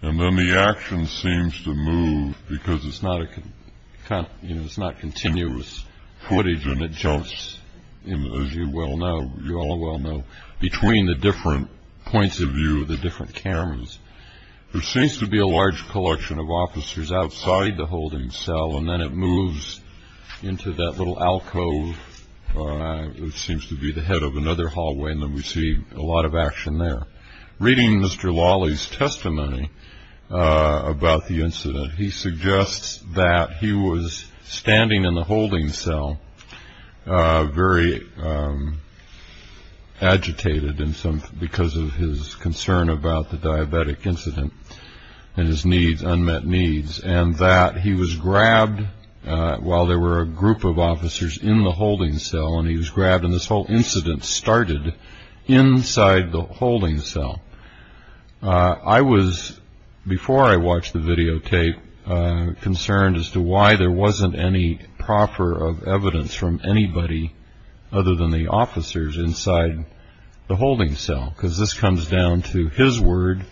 And then the action seems to move, because it's not continuous footage, and it jumps, as you all well know, between the different points of view of the different cameras. There seems to be a large collection of officers outside the holding cell, and then it moves into that little alcove which seems to be the head of another hallway, and then we see a lot of action there. Reading Mr. Lolli's testimony about the incident, he suggests that he was standing in the holding cell, very agitated because of his concern about the diabetic incident and his unmet needs, and that he was grabbed while there were a group of officers in the holding cell, and he was grabbed, and this whole incident started inside the holding cell. I was, before I watched the videotape, concerned as to why there wasn't any proffer of evidence from anybody other than the officers inside the holding cell, because this comes down to his word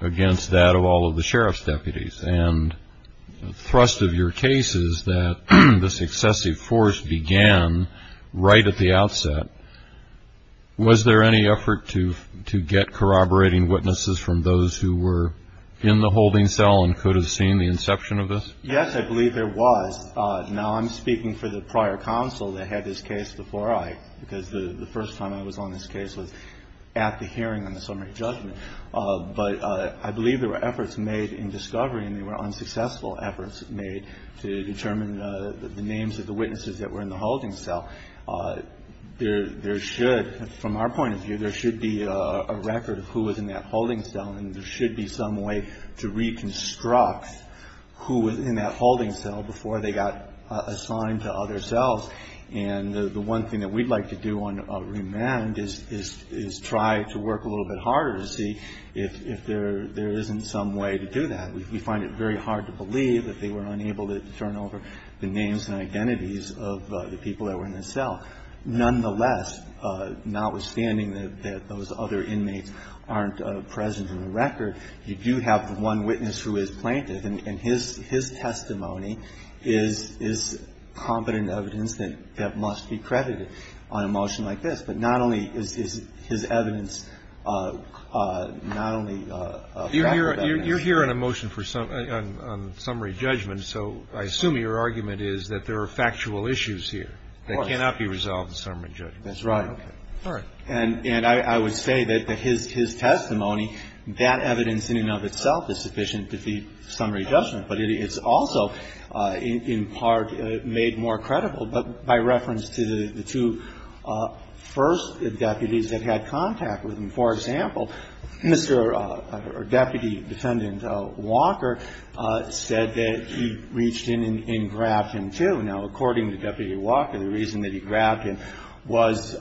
against that of all of the sheriff's deputies, and the thrust of your case is that this excessive force began right at the outset. Was there any effort to get corroborating witnesses from those who were in the holding cell and could have seen the inception of this? Yes, I believe there was. Now, I'm speaking for the prior counsel that had this case before I, because the first time I was on this case was at the hearing on the summary judgment, but I believe there were efforts made in discovery, and they were unsuccessful efforts made to determine the names of the witnesses that were in the holding cell. There should, from our point of view, there should be a record of who was in that holding cell, and there should be some way to reconstruct who was in that holding cell before they got assigned to other cells, and the one thing that we'd like to do on remand is try to work a little bit harder to see if there isn't some way to do that. We find it very hard to believe that they were unable to turn over the names and identities of the people that were in the cell. Nonetheless, notwithstanding that those other inmates aren't present in the record, you do have the one witness who is plaintiff, and his testimony is competent evidence that must be credited on a motion like this. But not only is his evidence not only a fact of evidence. Roberts. You're here on a motion for summary judgment, so I assume your argument is that there are factual issues here that cannot be resolved in summary judgment. That's right. All right. And I would say that his testimony, that evidence in and of itself is sufficient to defeat summary judgment. But it's also in part made more credible by reference to the two first deputies that had contact with him. For example, Mr. Deputy Defendant Walker said that he reached in and grabbed him, too. Now, according to Deputy Walker, the reason that he grabbed him was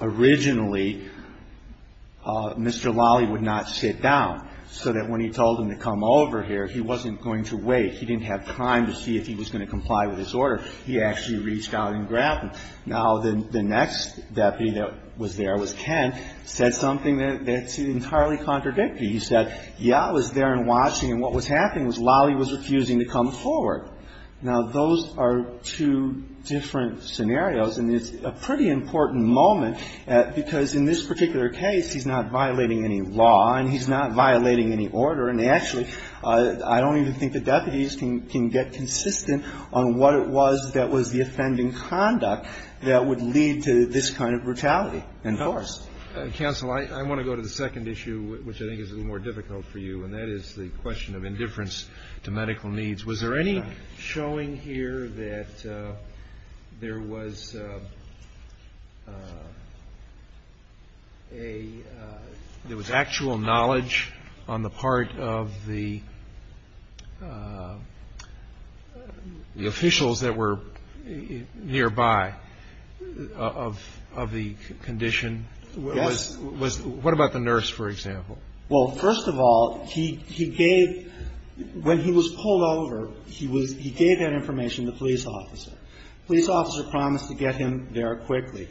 originally Mr. Lolly would not sit down, so that when he told him to come over here, he wasn't going to wait. He didn't have time to see if he was going to comply with his order. He actually reached out and grabbed him. Now, the next deputy that was there was Ken, said something that's entirely contradictory. He said, yeah, I was there and watching, and what was happening was Lolly was refusing to come forward. Now, those are two different scenarios, and it's a pretty important moment because in this particular case, he's not violating any law and he's not violating any order. And actually, I don't even think the deputies can get consistent on what it was that was the offending conduct that would lead to this kind of brutality and force. Counsel, I want to go to the second issue, which I think is a little more difficult for you, and that is the question of indifference to medical needs. Was there any showing here that there was actual knowledge on the part of the officials that were nearby of the condition? Yes. What about the nurse, for example? Well, first of all, he gave, when he was pulled over, he was, he gave that information to the police officer. The police officer promised to get him there quickly.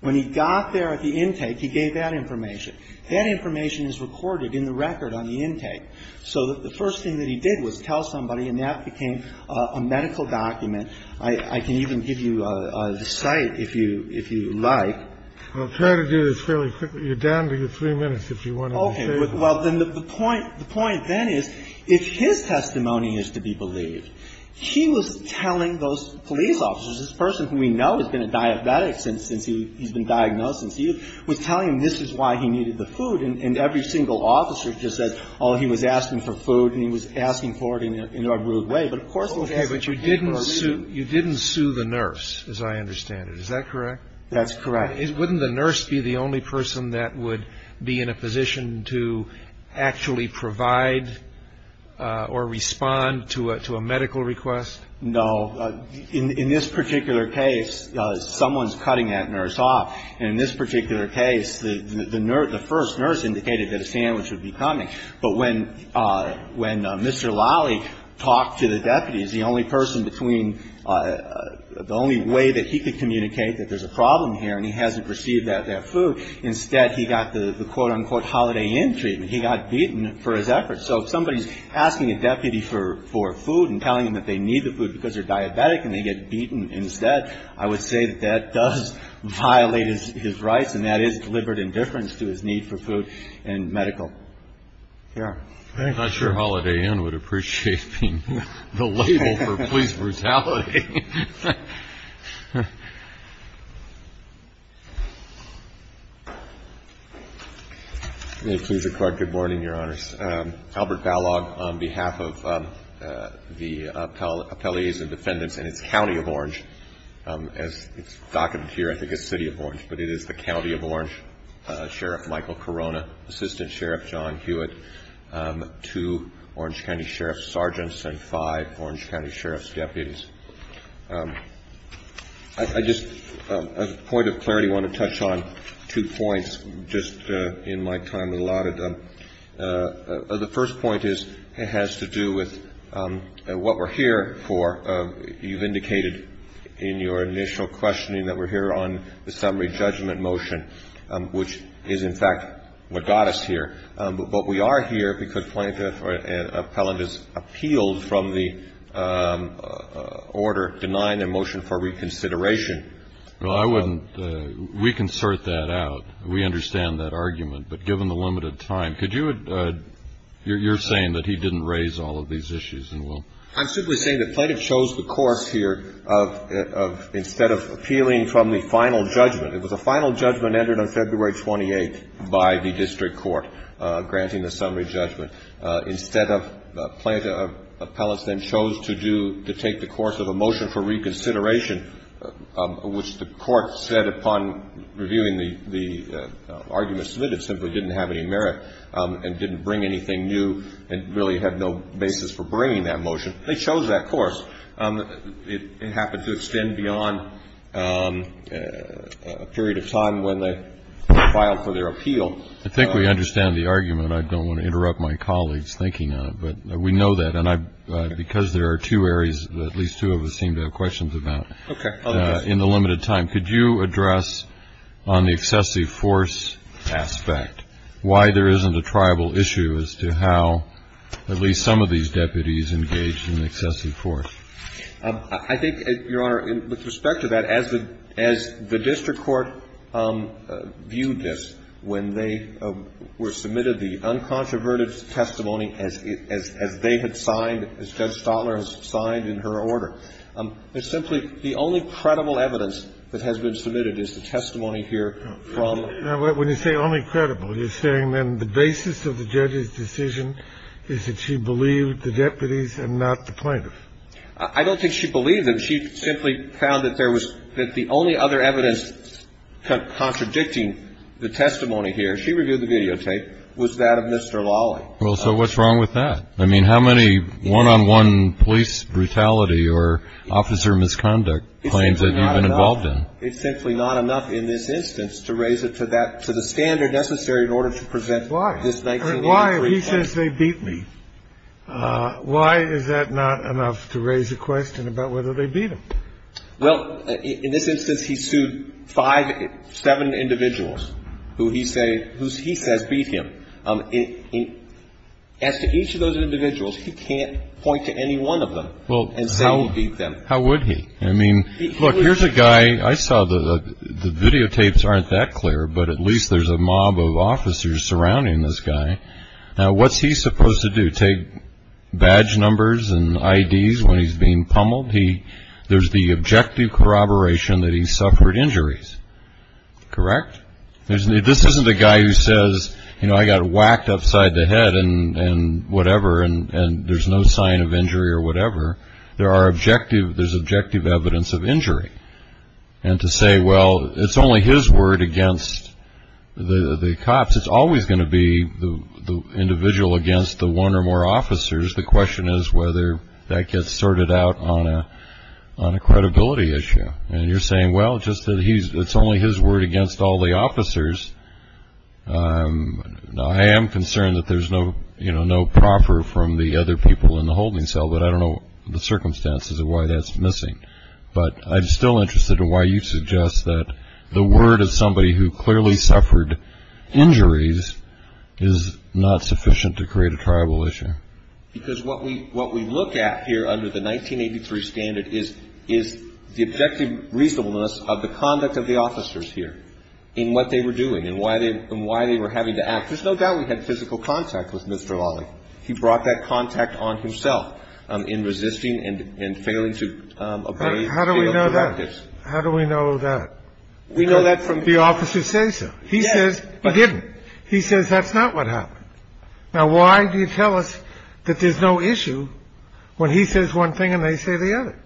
When he got there at the intake, he gave that information. That information is recorded in the record on the intake. So the first thing that he did was tell somebody, and that became a medical document. I can even give you the site if you like. I'll try to do this fairly quickly. You're down to your three minutes if you want to say something. Okay. Well, then the point then is if his testimony is to be believed, he was telling those police officers, this person who we know has been a diabetic since he's been diagnosed, he was telling them this is why he needed the food, and every single officer just said, oh, he was asking for food, and he was asking for it in a rude way. But of course he was asking for food. Okay. But you didn't sue the nurse, as I understand it. Is that correct? That's correct. Wouldn't the nurse be the only person that would be in a position to actually provide or respond to a medical request? No. In this particular case, someone's cutting that nurse off. And in this particular case, the first nurse indicated that a sandwich would be coming. But when Mr. Lally talked to the deputies, the only person between the only way that he could receive that food, instead he got the quote-unquote Holiday Inn treatment. He got beaten for his efforts. So if somebody's asking a deputy for food and telling them that they need the food because they're diabetic and they get beaten instead, I would say that that does violate his rights, and that is deliberate indifference to his need for food and medical care. I'm not sure Holiday Inn would appreciate being the label for police brutality. May it please the Court. Good morning, Your Honors. Albert Balog on behalf of the Appellees and Defendants and its County of Orange. As it's documented here, I think it's City of Orange, but it is the County of Orange. Sheriff Michael Corona, Assistant Sheriff John Hewitt, two Orange County Sheriff's Sergeants, and five Orange County Sheriff's deputies. I just, as a point of clarity, want to touch on two points just in my time allotted. The first point has to do with what we're here for. You've indicated in your initial questioning that we're here on the summary judgment motion, which is, in fact, what got us here. But we are here because Plaintiff or an appellant has appealed from the order denying a motion for reconsideration. Well, I wouldn't. We can sort that out. We understand that argument. But given the limited time, could you, you're saying that he didn't raise all of these issues in will? I'm simply saying that Plaintiff chose the course here of, instead of appealing from the final judgment, it was a final judgment entered on February 28th by the district court granting the summary judgment. Instead of Plaintiff, appellants then chose to do, to take the course of a motion for reconsideration, which the court said upon reviewing the argument submitted simply didn't have any merit and didn't bring anything new and really had no basis for bringing that motion. They chose that course. It happened to extend beyond a period of time when they filed for their appeal. I think we understand the argument. I don't want to interrupt my colleagues thinking on it. But we know that. And because there are two areas that at least two of us seem to have questions about. Okay. In the limited time, could you address on the excessive force aspect why there isn't a tribal issue as to how at least some of these deputies engaged in excessive force? I think, Your Honor, with respect to that, as the district court viewed this, when they were submitted the uncontroverted testimony as they had signed, as Judge Stotler has signed in her order, it's simply the only credible evidence that has been submitted is the testimony here from the plaintiff. I don't think she believed them. She simply found that there was that the only other evidence contradicting the testimony here, she reviewed the videotape, was that of Mr. Lawley. Well, so what's wrong with that? I mean, how many one-on-one police brutality or officer misconduct claims have you been involved in? It's simply not enough. It's simply not enough in this instance to raise it to that, to the standard necessary in order to present this 19- Why? He says they beat me. Why is that not enough to raise a question about whether they beat him? Well, in this instance, he sued five, seven individuals who he says beat him. As to each of those individuals, he can't point to any one of them and say he beat them. How would he? I mean, look, here's a guy I saw the videotapes aren't that clear, but at least there's a mob of officers surrounding this guy. Now, what's he supposed to do? Take badge numbers and IDs when he's being pummeled. He there's the objective corroboration that he suffered injuries. Correct. This isn't a guy who says, you know, I got whacked upside the head and whatever. And there's no sign of injury or whatever. There are objective there's objective evidence of injury. And to say, well, it's only his word against the cops. It's always going to be the individual against the one or more officers. The question is whether that gets sorted out on a on a credibility issue. And you're saying, well, just that he's it's only his word against all the officers. I am concerned that there's no, you know, no proffer from the other people in the holding cell. But I don't know the circumstances of why that's missing. But I'm still interested in why you suggest that the word of somebody who clearly suffered injuries is not sufficient to create a tribal issue. Because what we what we look at here under the 1983 standard is is the objective reasonableness of the conduct of the officers here in what they were doing and why they and why they were having to act. There's no doubt we had physical contact with Mr. Wally. He brought that contact on himself in resisting and failing to. How do we know that? How do we know that we know that from the officers say so? He says he didn't. He says that's not what happened. Now, why do you tell us that there's no issue when he says one thing and they say the other?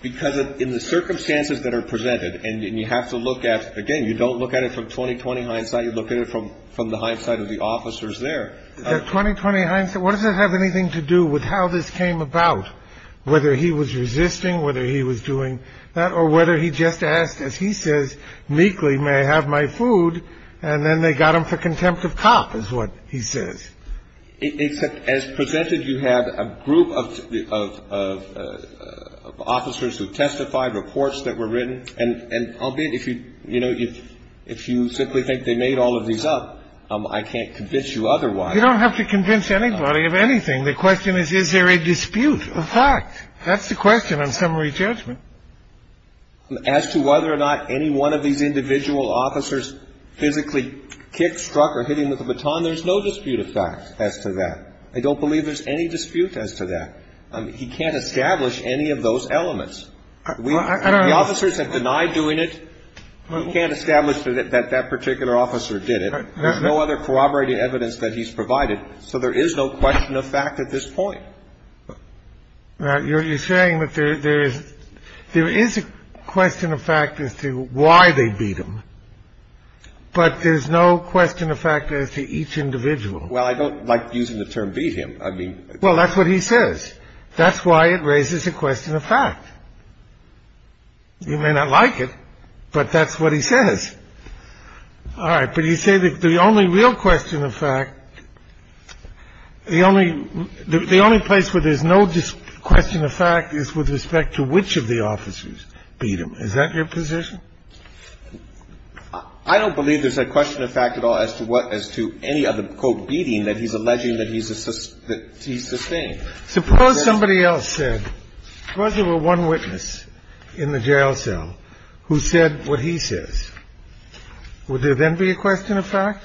Because in the circumstances that are presented and you have to look at again, you don't look at it from 2020 hindsight. You look at it from from the hindsight of the officers there. The 2020 hindsight. What does that have anything to do with how this came about? Whether he was resisting, whether he was doing that or whether he just asked, as he says, meekly, may I have my food? And then they got him for contempt of cop is what he says. It's as presented. You have a group of officers who testified reports that were written. And I'll be if you you know, if if you simply think they made all of these up, I can't convince you otherwise. You don't have to convince anybody of anything. The question is, is there a dispute of fact? That's the question of summary judgment. As to whether or not any one of these individual officers physically kicked, struck or hit him with a baton. There's no dispute of fact as to that. I don't believe there's any dispute as to that. He can't establish any of those elements. The officers have denied doing it. You can't establish that that particular officer did it. There's no other corroborating evidence that he's provided. So there is no question of fact at this point. Now, you're saying that there is there is a question of fact as to why they beat him. But there's no question of fact as to each individual. Well, I don't like using the term beat him. I mean. Well, that's what he says. That's why it raises a question of fact. You may not like it, but that's what he says. All right. But you say that the only real question of fact, the only the only place where there's no question of fact is with respect to which of the officers beat him. Is that your position? I don't believe there's a question of fact at all as to what as to any other quote beating that he's alleging that he's that he's sustained. Suppose somebody else said there was a one witness in the jail cell who said what he says. Would there then be a question of fact?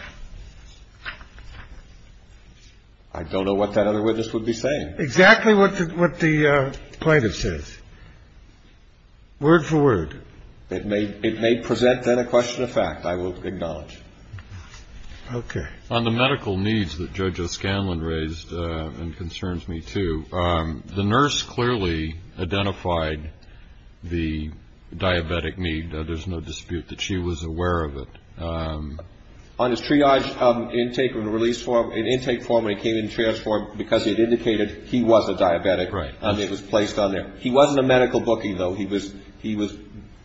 I don't know what that other witness would be saying exactly what what the plaintiff says. Word for word, it may it may present that a question of fact, I will acknowledge. OK. On the medical needs that judges Scanlon raised and concerns me to the nurse clearly identified the diabetic need. There's no dispute that she was aware of it on his triage intake and release for an intake form. I came in transformed because it indicated he was a diabetic. Right. And it was placed on there. He wasn't a medical bookie, though. He was he was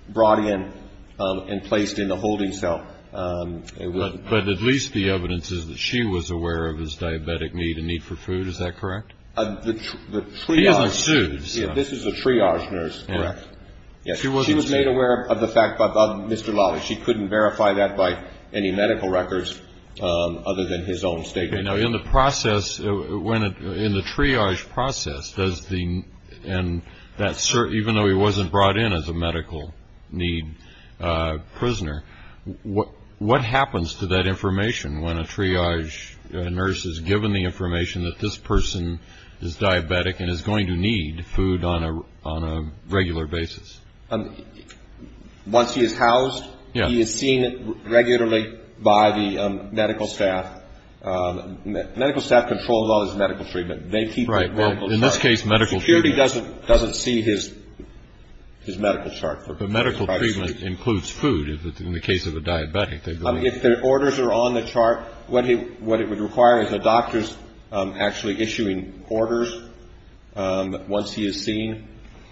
brought in and placed in the holding cell. But at least the evidence is that she was aware of his diabetic need and need for food. Is that correct? The truth is, this is a triage nurse. Yes, she was made aware of the fact that Mr. Lawless, she couldn't verify that by any medical records other than his own statement. Now, in the process, when in the triage process, does the and that even though he wasn't brought in as a medical need prisoner, what what happens to that information when a triage nurse is given the information that this person is diabetic and is going to need food on a on a regular basis? Once he is housed, he is seen regularly by the medical staff. Medical staff controls all his medical treatment. They keep right in this case medical security doesn't doesn't see his his medical chart for medical treatment includes food. In the case of a diabetic, if their orders are on the chart, what he what it would require is a doctor's actually issuing orders. Once he is seen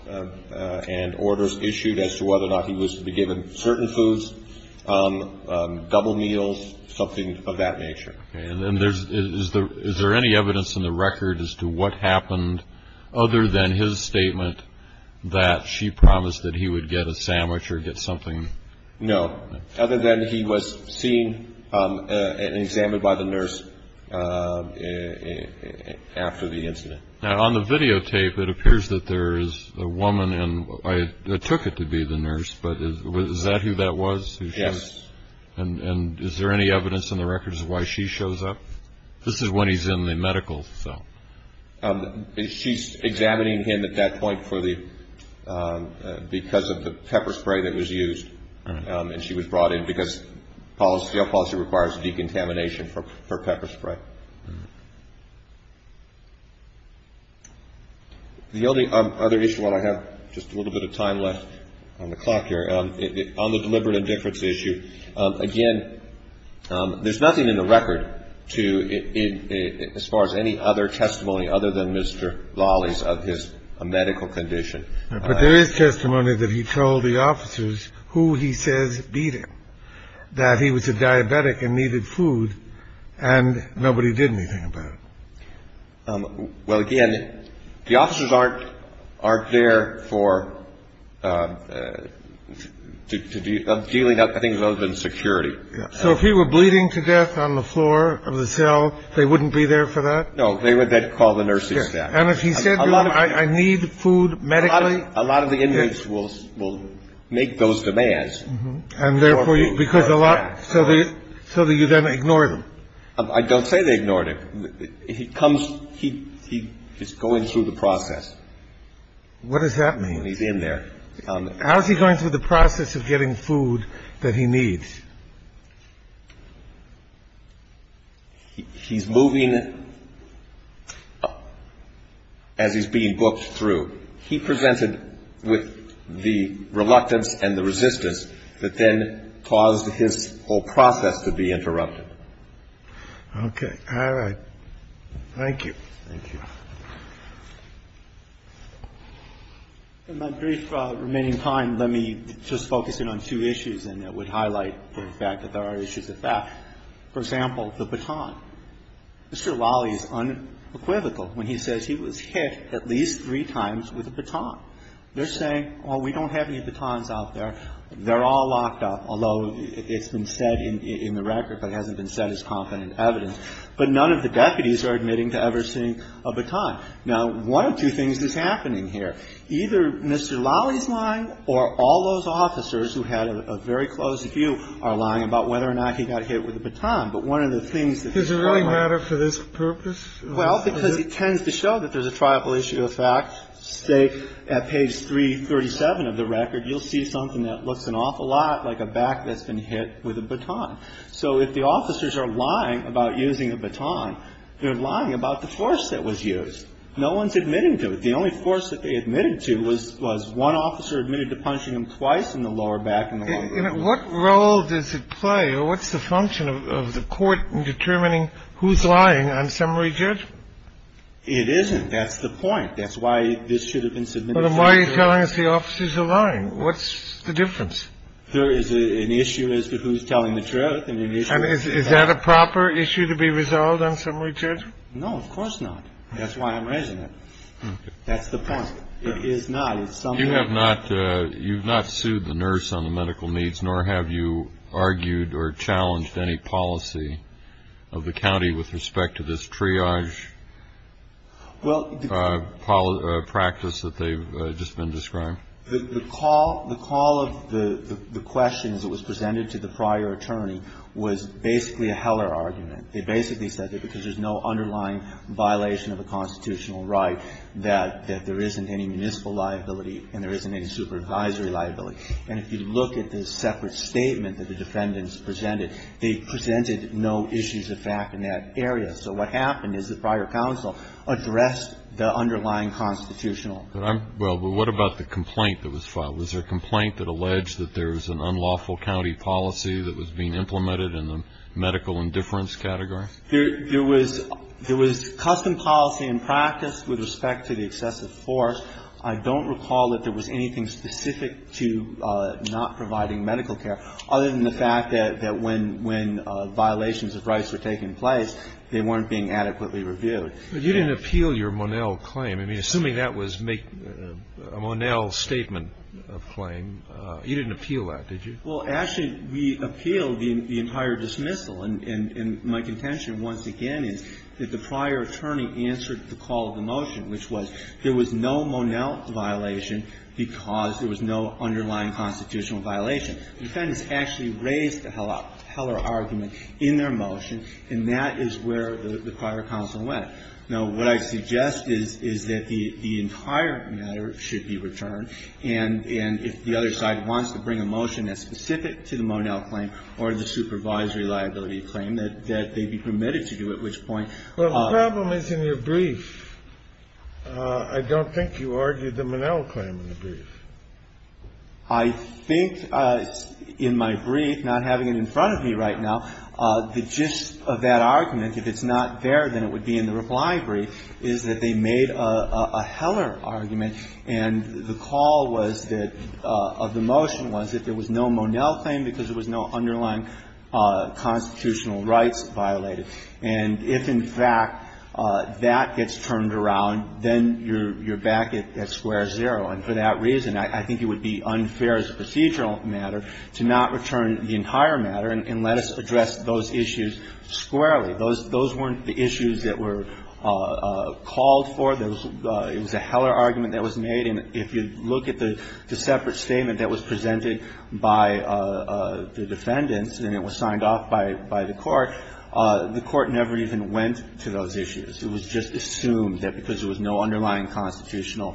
and orders issued as to whether or not he was to be given certain foods, double meals, something of that nature. And then there's is there is there any evidence in the record as to what happened other than his statement that she promised that he would get a sandwich or get something? No. Other than he was seen and examined by the nurse after the incident. Now, on the videotape, it appears that there is a woman and I took it to be the nurse. But is that who that was? Yes. And is there any evidence in the records why she shows up? This is when he's in the medical cell. She's examining him at that point for the because of the pepper spray that was used. And she was brought in because policy policy requires decontamination for pepper spray. The only other issue that I have just a little bit of time left on the clock here on the deliberate indifference issue. Again, there's nothing in the record to it as far as any other testimony other than Mr. Lawley's of his medical condition. But there is testimony that he told the officers who he says beat him, that he was a diabetic and needed food and nobody did anything about it. Well, again, the officers aren't aren't there for dealing with things other than security. So if he were bleeding to death on the floor of the cell, they wouldn't be there for that. No, they would then call the nurses. And if he said, I need food, medically, a lot of the inmates will make those demands. And therefore, because a lot. So the so the you then ignore them. I don't say they ignored it. He comes. He he is going through the process. What does that mean? He's in there. How is he going through the process of getting food that he needs? He's moving as he's being booked through. He presented with the reluctance and the resistance that then caused his whole process to be interrupted. OK. All right. Thank you. Thank you. In my brief remaining time, let me just focus in on two issues. And that would highlight the fact that there are issues with that. For example, the baton. Mr. Lally is unequivocal when he says he was hit at least three times with a baton. They're saying, oh, we don't have any batons out there. They're all locked up, although it's been said in the record, but it hasn't been said as confident evidence. But none of the deputies are admitting to ever seeing a baton. Now, one of two things that's happening here, either Mr. Lally's lying or all those officers who had a very close view are lying about whether or not he got hit with a baton. But one of the things that doesn't really matter for this purpose. Well, because it tends to show that there's a tribal issue of fact, say, at page 337 of the record, you'll see something that looks an awful lot like a back that's been hit with a baton. So if the officers are lying about using a baton, they're lying about the force that was used. No one's admitting to it. The only force that they admitted to was one officer admitted to punching him twice in the lower back and the lower rib. What role does it play or what's the function of the court in determining who's lying on summary judgment? It isn't. That's the point. That's why this should have been submitted. Why are you telling us the officers are lying? What's the difference? There is an issue as to who's telling the truth. And is that a proper issue to be resolved on summary judgment? No, of course not. That's why I'm raising it. That's the point. It is not. You have not. You've not sued the nurse on the medical needs, nor have you argued or challenged any policy of the county with respect to this triage. Well, the call of practice that they've just been describing. The call of the questions that was presented to the prior attorney was basically a Heller argument. They basically said that because there's no underlying violation of a constitutional right, that there isn't any municipal liability and there isn't any supervisory liability. And if you look at the separate statement that the defendants presented, they presented no issues of fact in that area. So what happened is the prior counsel addressed the underlying constitutional. Well, but what about the complaint that was filed? Was there a complaint that alleged that there was an unlawful county policy that was being implemented in the medical indifference category? There was custom policy and practice with respect to the excessive force. I don't recall that there was anything specific to not providing medical care, other than the fact that when violations of rights were taking place, they weren't being adequately reviewed. But you didn't appeal your Monell claim. I mean, assuming that was a Monell statement of claim, you didn't appeal that, did you? Well, actually, we appealed the entire dismissal. And my contention once again is that the prior attorney answered the call of the motion, which was there was no Monell violation because there was no underlying constitutional violation. The defendants actually raised the Heller argument in their motion, and that is where the prior counsel went. Now, what I suggest is, is that the entire matter should be returned. And if the other side wants to bring a motion that's specific to the Monell claim or the supervisory liability claim, that they be permitted to do, at which point the problem is in your brief. I don't think you argued the Monell claim in the brief. I think in my brief, not having it in front of me right now, the gist of that argument, if it's not there, then it would be in the reply brief, is that they made a Heller argument. And the call was that of the motion was that there was no Monell claim because there was no underlying constitutional rights violated. And if, in fact, that gets turned around, then you're back at square zero. And for that reason, I think it would be unfair as a procedural matter to not return the entire matter and let us address those issues squarely. Those weren't the issues that were called for. It was a Heller argument that was made. And if you look at the separate statement that was presented by the defendants, and it was signed off by the Court, the Court never even went to those issues. It was just assumed that because there was no underlying constitutional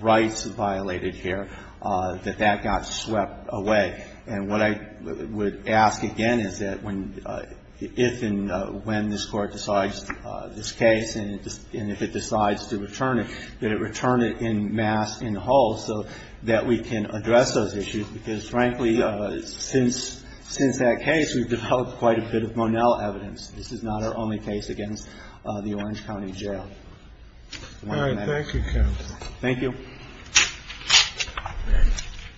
rights violated here that that got swept away. And what I would ask again is that if and when this Court decides this case and if it decides to return it, that it return it en masse, in whole, so that we can address those issues. Because, frankly, since that case, we've developed quite a bit of Monell evidence. This is not our only case against the Orange County Jail. I want you to know that. Thank you, counsel. Thank you.